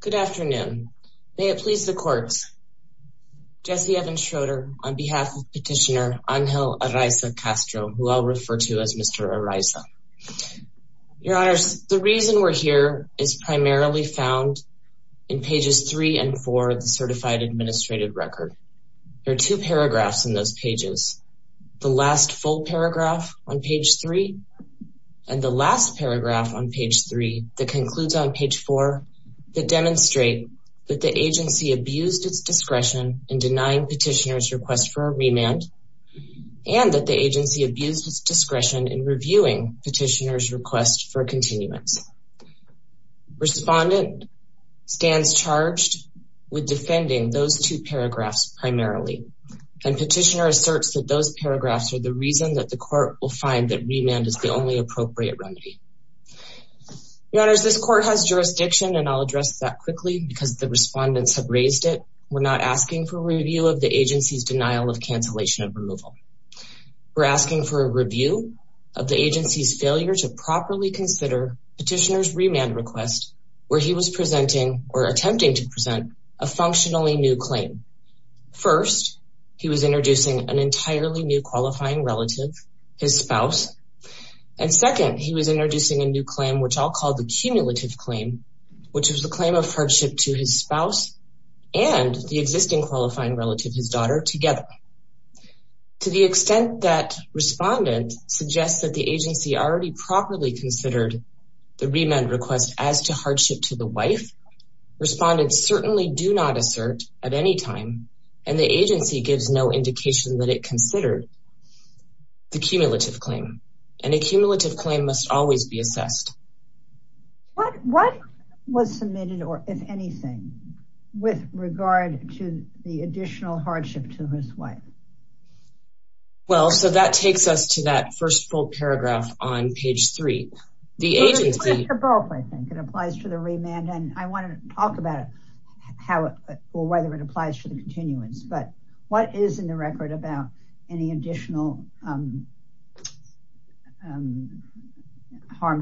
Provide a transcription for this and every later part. Good afternoon. May it please the courts. Jesse Evans Schroeder on behalf of petitioner Angel Araiza-Castro, who I'll refer to as Mr. Araiza. Your honors, the reason we're here is primarily found in pages three and four of the Certified Administrative Record. There are two paragraphs in those pages, the last full paragraph on page three and the last paragraph on page three that demonstrate that the agency abused its discretion in denying petitioner's request for a remand and that the agency abused its discretion in reviewing petitioner's request for continuance. Respondent stands charged with defending those two paragraphs primarily and petitioner asserts that those paragraphs are the reason that the court will find that remand is the only appropriate remedy. Your honors, this court has jurisdiction and I'll address that quickly because the respondents have raised it. We're not asking for review of the agency's denial of cancellation of removal. We're asking for a review of the agency's failure to properly consider petitioner's remand request where he was presenting or attempting to present a functionally new claim. First, he was introducing an entirely new qualifying relative, his spouse, and second, he was introducing a new claim, which I'll call the cumulative claim, which was the claim of hardship to his spouse and the existing qualifying relative, his daughter, together. To the extent that respondent suggests that the agency already properly considered the remand request as to gives no indication that it considered the cumulative claim and a cumulative claim must always be assessed. What was submitted or if anything with regard to the additional hardship to his wife? Well, so that takes us to that first full paragraph on page three. The agency applies to the remand and I want to talk about how or whether it applies to the continuance but what is in the record about any additional harm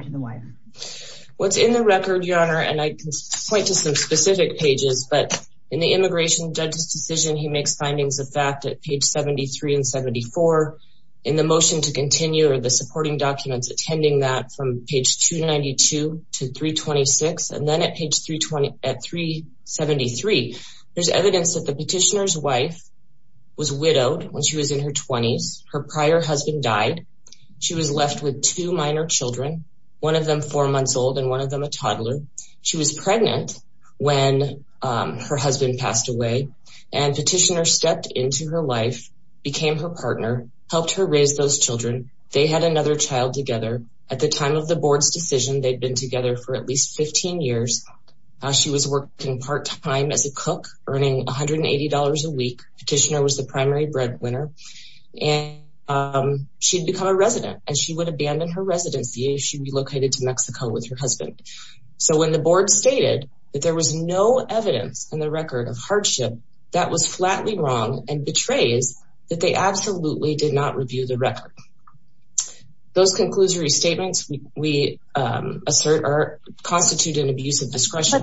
to the wife? What's in the record, Your Honor, and I can point to some specific pages, but in the immigration judge's decision, he makes findings of fact at page 73 and 74. In the motion to continue or the supporting documents attending that from page 292 to 326 and then at page 320 at 373, there's evidence that the petitioner's wife was widowed when she was in her 20s. Her prior husband died. She was left with two minor children, one of them four months old and one of them a toddler. She was pregnant when her husband passed away and petitioner stepped into her life, became her partner, helped her raise those children. They had another child together. At the time of the board's decision, they'd been together for at least a year. She'd become a resident and she would abandon her residency if she relocated to Mexico with her husband. When the board stated that there was no evidence in the record of hardship, that was flatly wrong and betrays that they absolutely did not review the record. Those conclusory statements we assert constitute an abuse of discretion.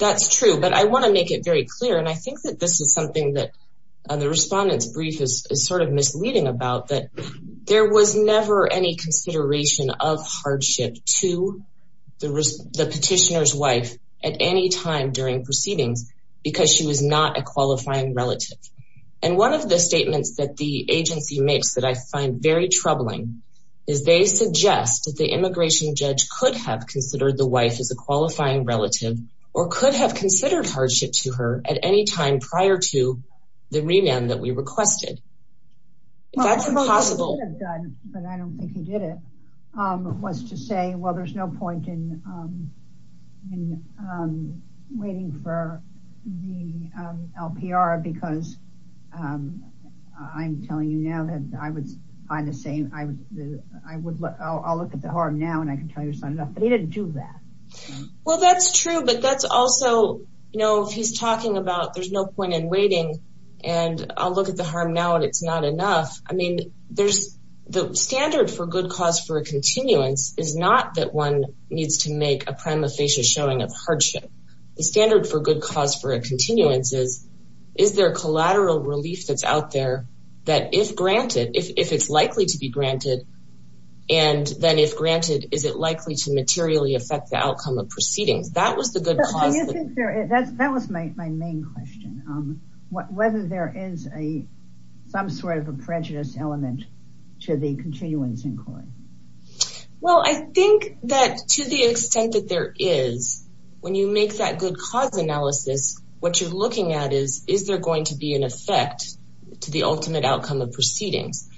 That's true, but I want to make it very clear and I think that this is something that the respondent's brief is sort of misleading about that there was never any consideration of hardship to the petitioner's wife at any time during proceedings because she was not a qualifying relative. One of the statements that the agency makes that I find very troubling is they suggest that the immigration judge could have considered the wife as a qualifying relative or could have considered hardship to her at any time prior to the remand that we requested. That's impossible. But I don't think he did it, was to say, well, there's no point in waiting for the LPR because I'm telling you now that I would find the same, I would look, I'll look at the harm now and I can tell you it's not enough, but he didn't do that. Well, that's true, but that's also, you know, if he's talking about there's no point in waiting and I'll look at the harm now and it's not enough. I mean, there's the standard for good cause for a continuance is not that one needs to make a prima facie showing of hardship. The standard for good cause for a continuance is, is there collateral relief that's out there that if granted, if it's likely to be granted and then if granted, is it likely to materially affect the outcome of proceedings? That was the good cause. Do you think there is, that was my main question, whether there is a, some sort of a prejudice element to the continuance inquiry? Well, I think that to the extent that there is, when you make that good cause analysis, what you're looking at is, is there going to be an effect to the ultimate outcome of proceedings?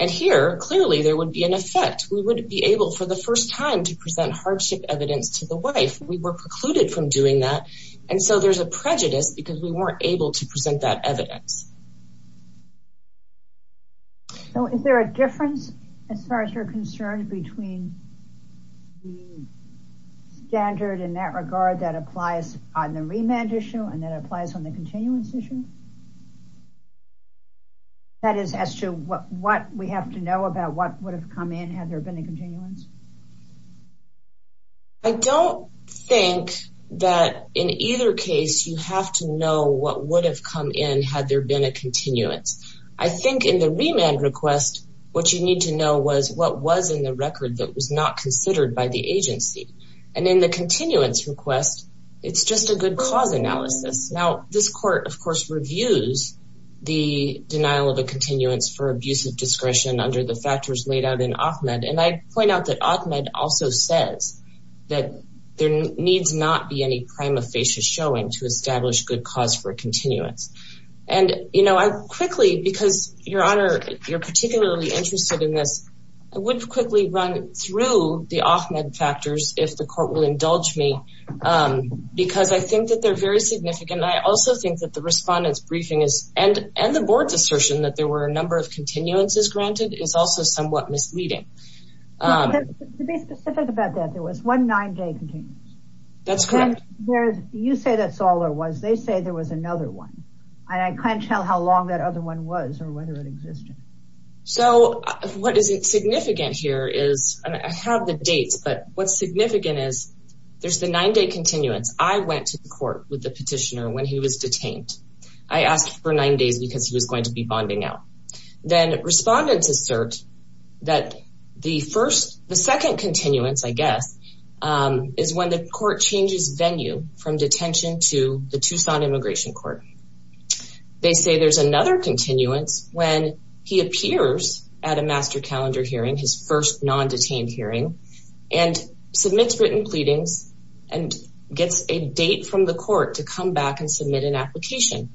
And here, clearly there would be an effect. We would be able for the first time to present hardship evidence to the wife. We were precluded from doing that. And so there's a prejudice because we weren't able to present that evidence. So is there a difference as far as you're concerned between the standard in that regard that applies on the remand issue and that applies on the continuance issue? That is as to what, what we have to know about what would have come in had there been a continuance? I don't think that in either case, you have to know what would have come in had there been a continuance. I think in the remand request, what you need to know was what was in the record that was not considered by the agency. And in the continuance request, it's just a good cause analysis. Now, this court, of course, reviews the denial of a continuance for abusive discretion under the factors laid out in AHMED. And I point out that AHMED also says that there needs not be any prima facie showing to establish good cause for a continuance. And, you know, I quickly, because Your Honor, you're particularly interested in this, I would quickly run through the AHMED factors, if the court will indulge me, because I think that they're very significant. I also think that the respondent's briefing is, and the board's assertion that there were a number of continuances granted, is also somewhat misleading. To be specific about that, there was one nine-day continuance. That's correct. You say that's all there was. They say there was another one. I can't tell how long that other one was or whether it existed. So what is significant here is, and I have the dates, but what's significant is, there's the nine-day continuance. I went to the court with the petitioner when he was detained. I asked for nine days because he was going to be bonding out. Then respondents assert that the first, the second continuance, I guess, is when the court changes venue from detention to the Tucson Immigration Court. They say there's another continuance when he appears at a master calendar hearing, his first non-detained hearing, and submits written pleadings and gets a date from the court to come back and submit an application.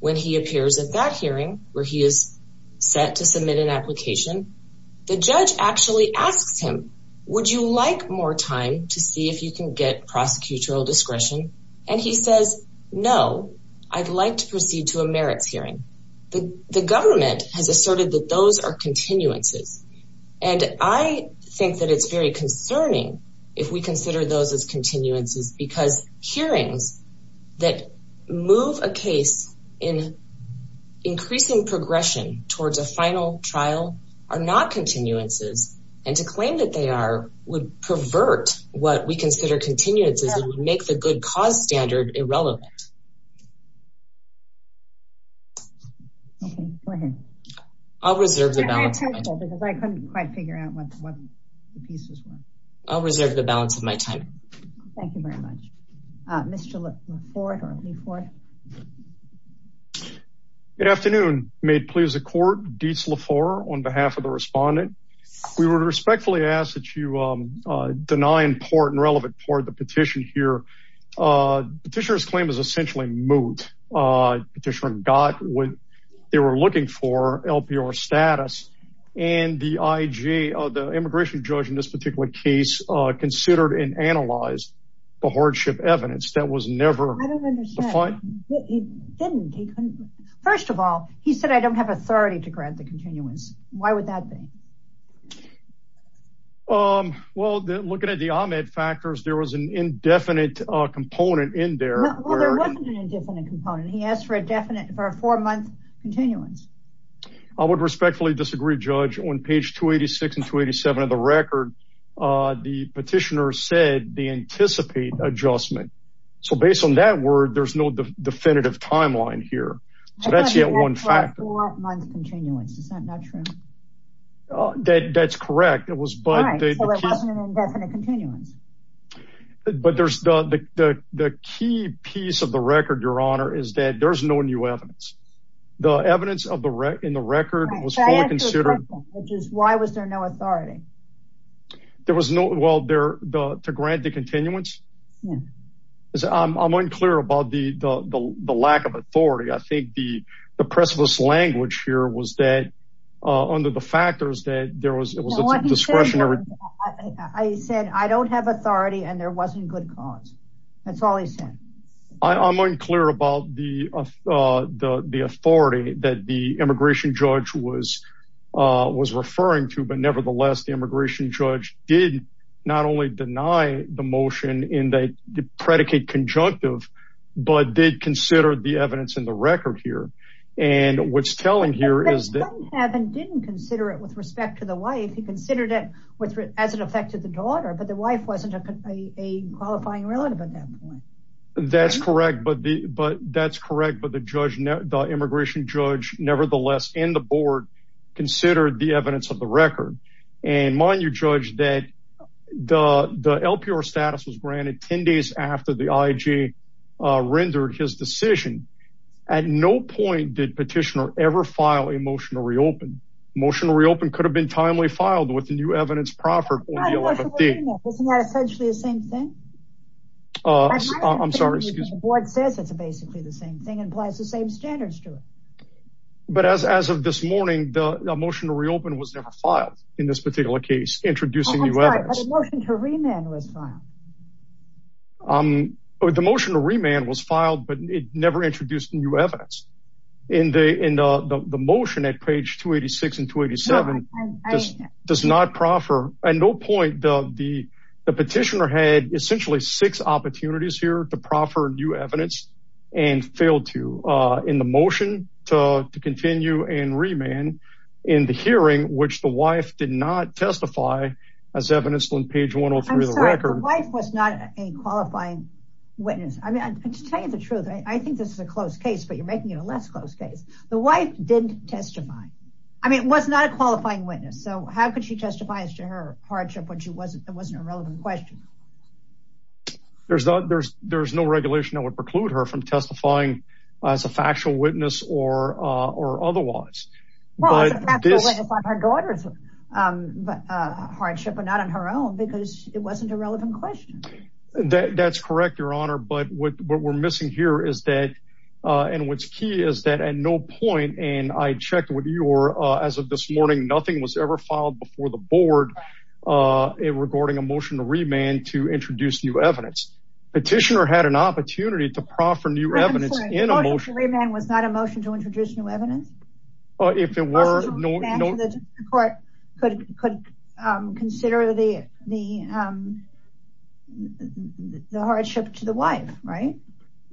When he appears at that hearing, where he is set to submit an application, the judge actually asks him, would you like more time to see if you can get prosecutorial discretion? And he says, no, I'd like to proceed to a merits hearing. The government has asserted that those are continuances. And I think that it's very that move a case in increasing progression towards a final trial are not continuances. And to claim that they are would pervert what we consider continuances and make the good cause standard irrelevant. Okay, go ahead. I'll reserve the balance of my time. I couldn't quite figure it out. Good afternoon. May it please the court, Dietz LaFleur on behalf of the respondent. We were respectfully asked that you deny important relevant part of the petition here. Petitioner's claim is essentially moot. Petitioner got what they were looking for, LPR status, and the IJ, the immigration judge in this particular case, considered and analyzed the hardship evidence that was never defined. First of all, he said, I don't have authority to grant the continuance. Why would that be? Um, well, looking at the Ahmed factors, there was an indefinite component in there. He asked for a definite for a four month continuance. I would respectfully disagree judge on page 286 and 287 of the record. The petitioner said the anticipate adjustment. So based on that word, there's no definitive timeline here. So that's yet one factor. That's correct. It was, but there's the key piece of the record. Your honor is that there's no new evidence. The evidence of the wreck in the There was no, well, there, the, to grant the continuance is I'm unclear about the, the, the, the lack of authority. I think the, the press of this language here was that, uh, under the factors that there was, it was a discretionary, I said, I don't have authority and there wasn't good cause. That's all he said. I'm unclear about the, uh, uh, the, the authority that the immigration judge was, uh, was referring to, but nevertheless, the immigration judge did not only deny the motion in the predicate conjunctive, but did consider the evidence in the record here. And what's telling here is that heaven didn't consider it with respect to the wife. He considered it with as an effect to the daughter, but the wife wasn't a qualifying relative at that point. That's correct. But the, but that's correct. But the judge, the immigration judge, nevertheless, in the board considered the evidence of the record and mind you judge that the, the LPR status was granted 10 days after the IJ, uh, rendered his decision at no point did petitioner ever file a motion to reopen motion to reopen could have been timely filed with the new evidence proffered. Isn't that essentially the same thing? Uh, I'm sorry. Excuse me. The board says it's a motion to reopen was never filed in this particular case. Introducing the motion to remand was filed. Um, or the motion to remand was filed, but it never introduced new evidence in the, in the, the, the motion at page two 86 and two 87 does not proffer at no point. The, the, the petitioner had essentially six opportunities here to proffer new evidence and failed to, uh, in the motion to, to continue and remand in the hearing, which the wife did not testify as evidence on page one or three, the record was not a qualifying witness. I mean, I just tell you the truth. I think this is a close case, but you're making it a less close case. The wife didn't testify. I mean, it was not a qualifying witness. So how could she testify as to her hardship when she wasn't, it wasn't a relevant question. There's no, there's, there's no regulation that would preclude her from testifying as a factual witness or, uh, or otherwise. Um, but, uh, hardship, but not on her own because it wasn't a relevant question. That's correct. Your honor. But what, what we're missing here is that, uh, and what's key is that at no point. And I checked with you as of this morning, nothing was ever filed before the board, uh, regarding a motion to remand to introduce new evidence. Petitioner had an opportunity to proffer new evidence was not a motion to introduce new evidence. Oh, if it were no court could, could, um, consider the, the, um, the hardship to the wife. Right.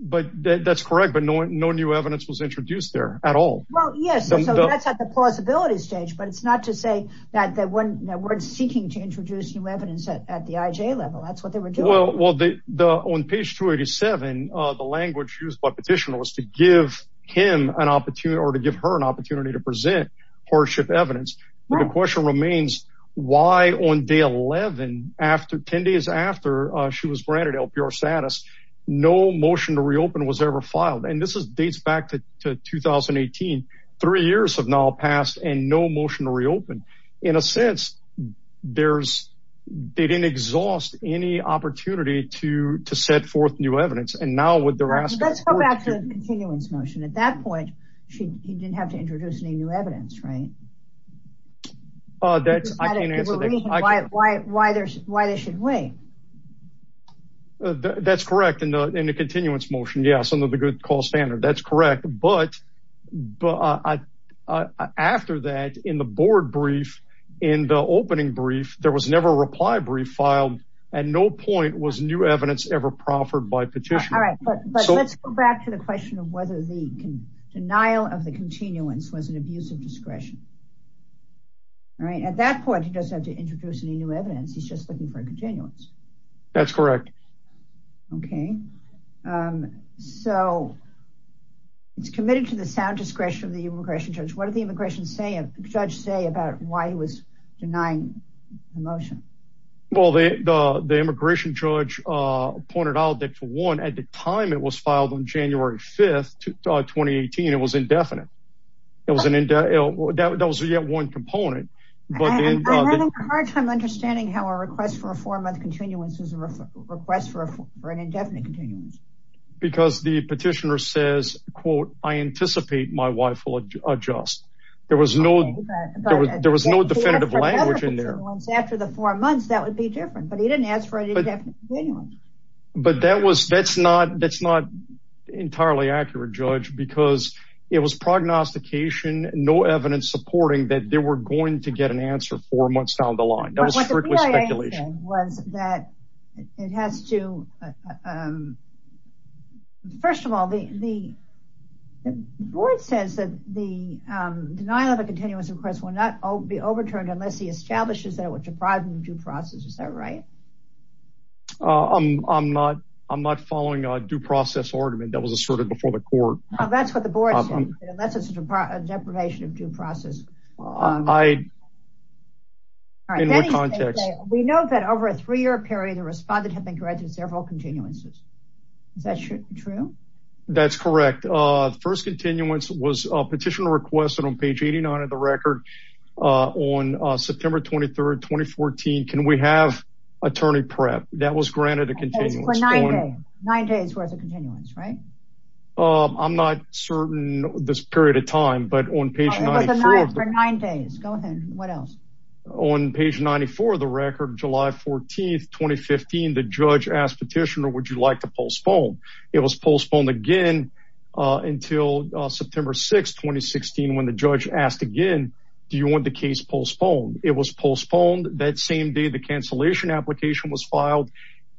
But that's correct. But no, no new evidence was introduced there at all. Well, yes. So that's at the plausibility stage, but it's not to say that, that when we're seeking to introduce new evidence at, at the IJ level, that's what they were doing. Well, well, the, the, on page 287, uh, the language used by petitioner was to give him an opportunity or to give her an opportunity to present hardship evidence. The question remains why on day 11, after 10 days after, uh, she was granted LPR status, no motion to reopen was ever filed. And this is dates back to 2018, three years have now passed and no motion to reopen in a sense there's, they didn't exhaust any opportunity to, to set forth new evidence. And now what they're asking, let's go back to the continuance motion. At that point, she didn't have to introduce any new evidence, right? Uh, that's, I can't answer that. Why, why, why there's, why they should wait. Uh, that's correct in the, in the continuance motion. Yeah. Some of the good call standard. That's correct. But, but, uh, uh, uh, after that in the board brief in the opening brief, there was never a reply brief filed at no point was new evidence ever proffered by petitioner. All right. But let's go back to the question of whether the denial of the continuance was an abuse of discretion. All right. At that point, he doesn't have to introduce any new evidence. He's just looking for a continuance. That's correct. Okay. Um, so it's committed to the sound discretion of the immigration judge. What did the immigration say, judge say about why he was denying the motion? Well, the, the, the immigration judge, uh, pointed out that to one at the time it was filed on January 5th, 2018, it was indefinite. It was an, that was yet one component. I'm having a hard time understanding how a request for a four month continuance is a request for an indefinite continuance. Because the petitioner says, quote, I anticipate my wife will adjust. There was no, there was no definitive language in there. After the four months, that would be different, but he didn't ask for an indefinite. But that was, that's not, that's not entirely accurate judge because it was prognostication, no evidence supporting that there were going to get an answer four months down the line. That was strictly speculation. What the BIA said was that it has to, um, first of all, the, the board says that the, um, denial of a continuance request will not be overturned unless he establishes that it was deprived in due process. Is that right? Uh, I'm, I'm not, I'm not following a due process argument that was asserted before the court. Oh, that's what the board said, unless it's a deprivation of due process. I, in what context? We know that over a three year period, the respondent had been granted several continuances. Is that true? That's correct. Uh, the first continuance was a petitioner requested on page 89 of the record, uh, on, uh, September 23rd, 2014. Can we have attorney prep? That was granted a continuance. For nine days, nine days worth of continuance, right? Um, I'm not certain this period of time, but on page. For nine days, go ahead. What else? On page 94 of the record, July 14th, 2015, the judge asked petitioner, would you like to postpone? It was postponed again, uh, until, uh, September 6th, when the judge asked again, do you want the case postponed? It was postponed that same day. The cancellation application was filed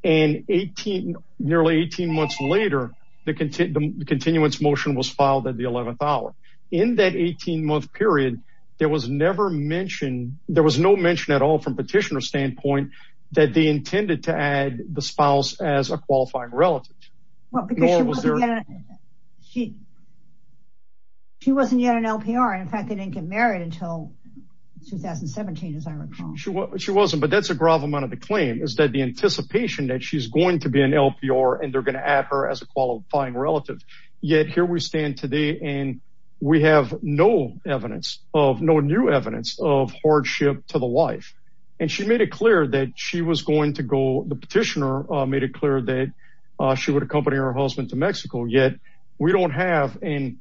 and 18, nearly 18 months later, the content, the continuance motion was filed at the 11th hour in that 18 month period. There was never mentioned. There was no mention at all from petitioner standpoint that they intended to add the spouse as a qualifying relative. Because she wasn't yet an LPR. In fact, they didn't get married until 2017, as I recall. She wasn't, but that's a grove amount of the claim is that the anticipation that she's going to be an LPR and they're going to add her as a qualifying relative. Yet here we stand today, and we have no evidence of no new evidence of hardship to the wife. And she made it clear that she was going to go. The petitioner made it clear that she would accompany her husband to Mexico. Yet we don't have, and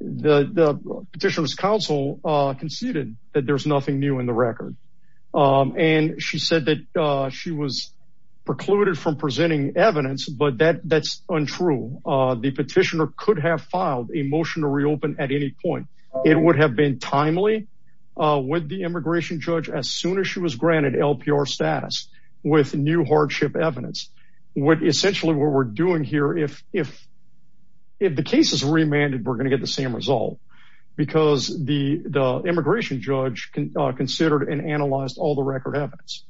the petitioner's counsel conceded that there's nothing new in the record. And she said that she was precluded from presenting evidence, but that that's untrue. The petitioner could have filed a motion to reopen at any point. It would have been timely with the immigration judge as soon as she was granted LPR status with new hardship evidence. What essentially what we're doing here, if the case is remanded, we're going to get the same result because the immigration judge considered and analyzed all the record evidence.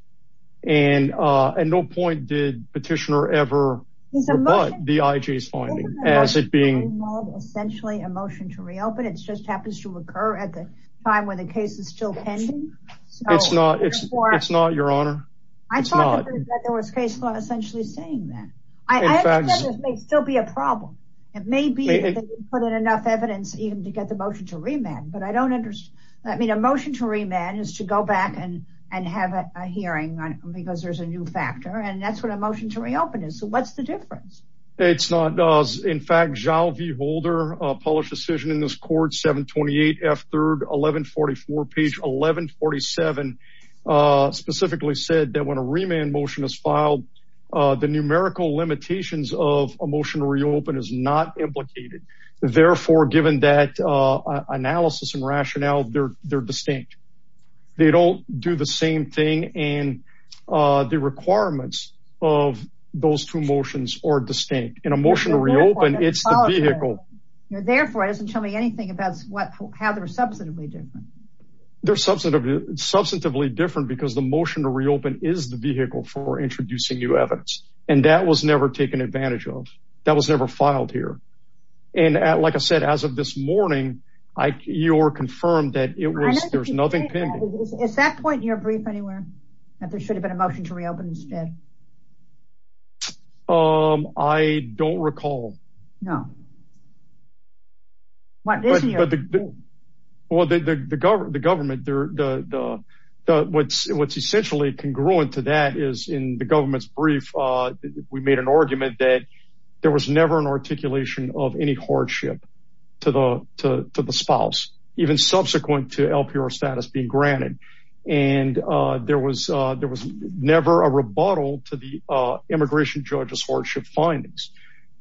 And at no point did petitioner ever rebut the IJ's finding as it being essentially a motion to reopen. It just happens to occur at the time when the case is still pending. It's not, it's not, your honor. I thought there was case law essentially saying that. I understand this may still be a problem. It may be put in enough evidence even to get the motion to remand, but I don't understand. I mean, a motion to remand is to go back and and have a hearing because there's a new factor. And that's what a motion to reopen is. So what's the difference? It's not. In fact, Zhao V. Holder published decision in this court, 728 F 3rd, 1144 page 1147, specifically said that when a remand motion is filed, the numerical limitations of a motion to reopen is not implicated. Therefore, given that analysis and rationale, they're distinct. They don't do the same thing. And the requirements of those two motions are distinct. In a motion to reopen, it's the vehicle. Therefore, it doesn't tell me anything about how they're substantively different. They're substantively different because the motion to reopen is the vehicle for introducing new evidence. And that was never taken advantage of. That was never filed here. And like I said, as of this morning, you're confirmed that there's nothing pending. Is that point in your brief anywhere, that there should have been a motion to reopen instead? Um, I don't recall. No. What is your view? Well, the government, what's essentially congruent to that is in the government's brief, we made an argument that there was never an articulation of any hardship to the spouse, even subsequent to LPR status being granted. And there was never a rebuttal to the immigration judge's hardship findings.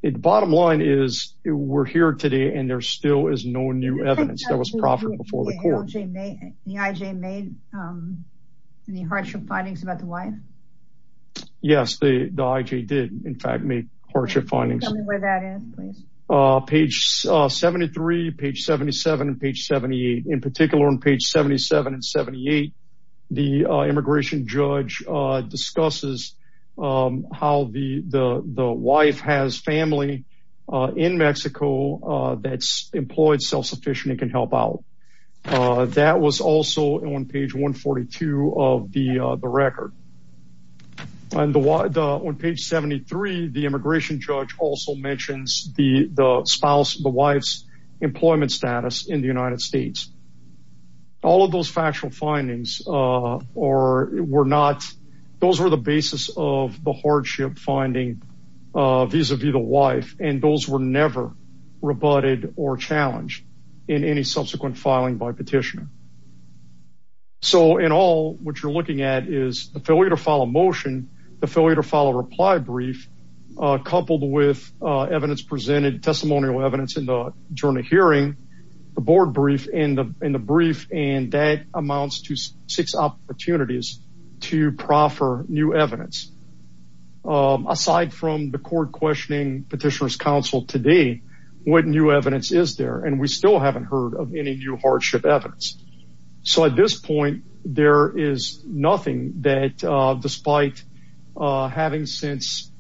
The bottom line is we're here today and there still is no new evidence that was proffered before the court. The IJ made any hardship findings about the wife? Yes, the IJ did, in fact, make hardship findings. Tell me where that is, please. Page 73, page 77 and page 78. In particular, on page 77 and 78, the immigration judge discusses how the wife has family in Mexico that's employed self-sufficient and can help out. That was also on page 142 of the record. On page 73, the immigration judge also mentions the spouse, the wife's employment status in the United States. All of those factual findings were not, those were the basis of the hardship finding vis-a-vis the wife, and those were never rebutted or challenged in any subsequent filing by petitioner. So in all, what you're looking at is the failure to file a motion, the failure to file a reply brief, coupled with evidence presented, testimonial evidence in the journal hearing, the board brief, and the brief, and that amounts to six opportunities to proffer new evidence. Aside from the court questioning petitioner's counsel today, what new evidence is there? And we still haven't heard of any new hardship evidence. So at this point, there is nothing that, despite having since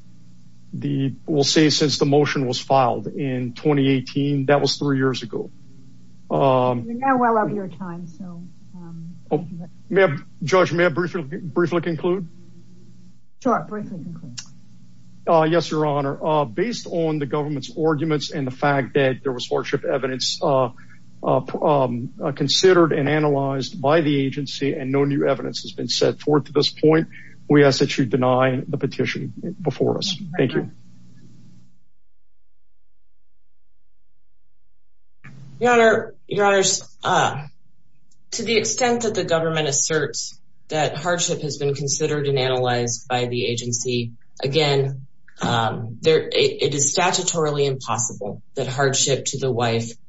the, we'll say since the motion was filed in 2018, that was three years ago. We're now well out of your time. Judge, may I briefly conclude? Sure, briefly conclude. Yes, your honor. Based on the government's arguments and the fact that there was hardship evidence considered and analyzed by the agency and no new evidence has been set forth to this point, we ask that you deny the petition before us. Thank you. Your honors, to the extent that the government asserts that hardship has been considered and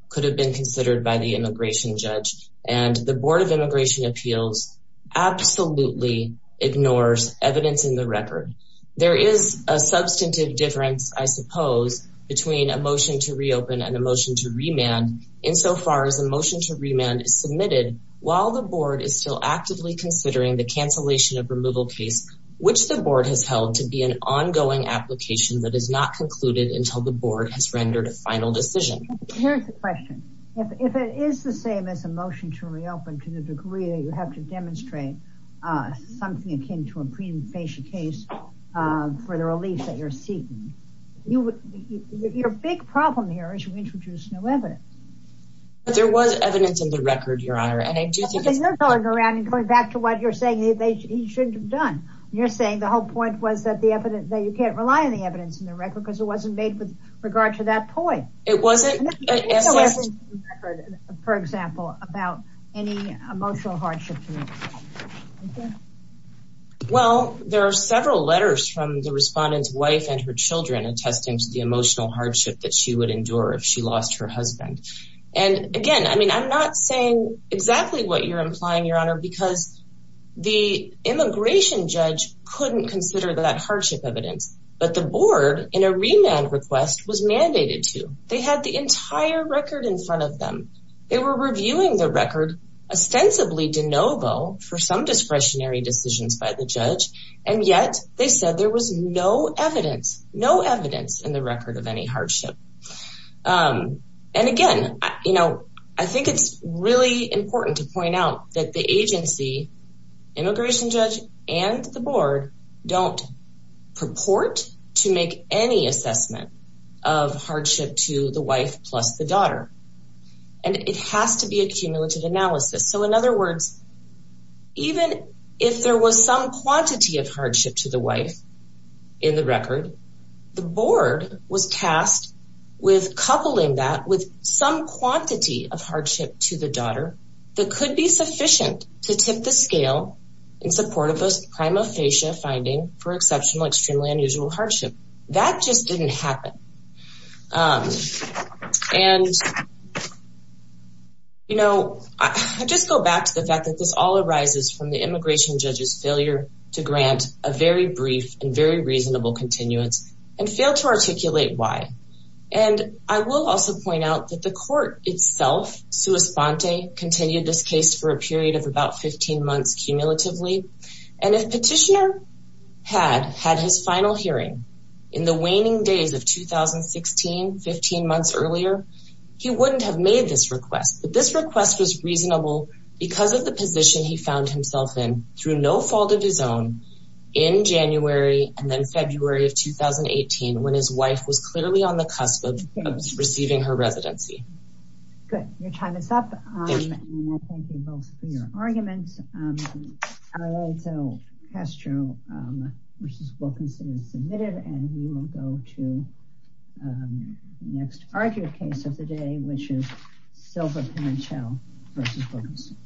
could have been considered by the immigration judge and the board of immigration appeals absolutely ignores evidence in the record. There is a substantive difference, I suppose, between a motion to reopen and a motion to remand insofar as a motion to remand is submitted while the board is still actively considering the cancellation of removal case, which the board has held to be an ongoing application that is not concluded until the board has rendered a final decision. Here's the question. If it is the same as a motion to reopen to the degree that you have to demonstrate something akin to a pre-initiation case for the relief that you're seeking, your big problem here is you introduced no evidence. There was evidence in the record, your honor, and I do think it's... You're going around and going back to what you're saying that they shouldn't have done. You're saying the whole point was that the evidence, that you can't rely on the evidence in the record because it wasn't made with regard to that point. It wasn't. For example, about any emotional hardship. Well, there are several letters from the respondent's wife and her children attesting to the emotional hardship that she would endure if she lost her husband. And again, I mean, I'm not saying exactly what you're implying, your honor, because the immigration judge couldn't consider that hardship evidence, but the board in a remand request was mandated to. They had the entire record in front of them. They were reviewing the record ostensibly de novo for some discretionary decisions by the judge. And yet they said there was no evidence, no evidence in the record of any hardship. And again, I think it's really important to point out that the agency, immigration judge, and the board don't purport to make any assessment of hardship to the wife plus the daughter. And it has to be a cumulative analysis. So in other words, even if there was some quantity of hardship to the wife in the record, the board was tasked with coupling that with some quantity of hardship to the daughter that could be sufficient to tip the scale in support of those primal fascia finding for exceptional, extremely unusual hardship. That just didn't happen. And, you know, I just go back to the fact that this all arises from the immigration judge's failure to grant a very brief and very reasonable continuance and fail to articulate why. And I will also point out that the court itself, sua sponte, continued this case for a period of about 15 months cumulatively. And if Petitioner had had his final hearing in the waning days of 2016, 15 months earlier, he wouldn't have made this request. But this request was reasonable because of the position he found himself in through no fault of his own in January and then on the cusp of receiving her residency. Good. Your time is up. Thank you both for your arguments. I will also pass to you, Mrs. Wilkinson is submitted and we will go to the next argued case of the day, which is Silva-Panchel versus Wilkinson.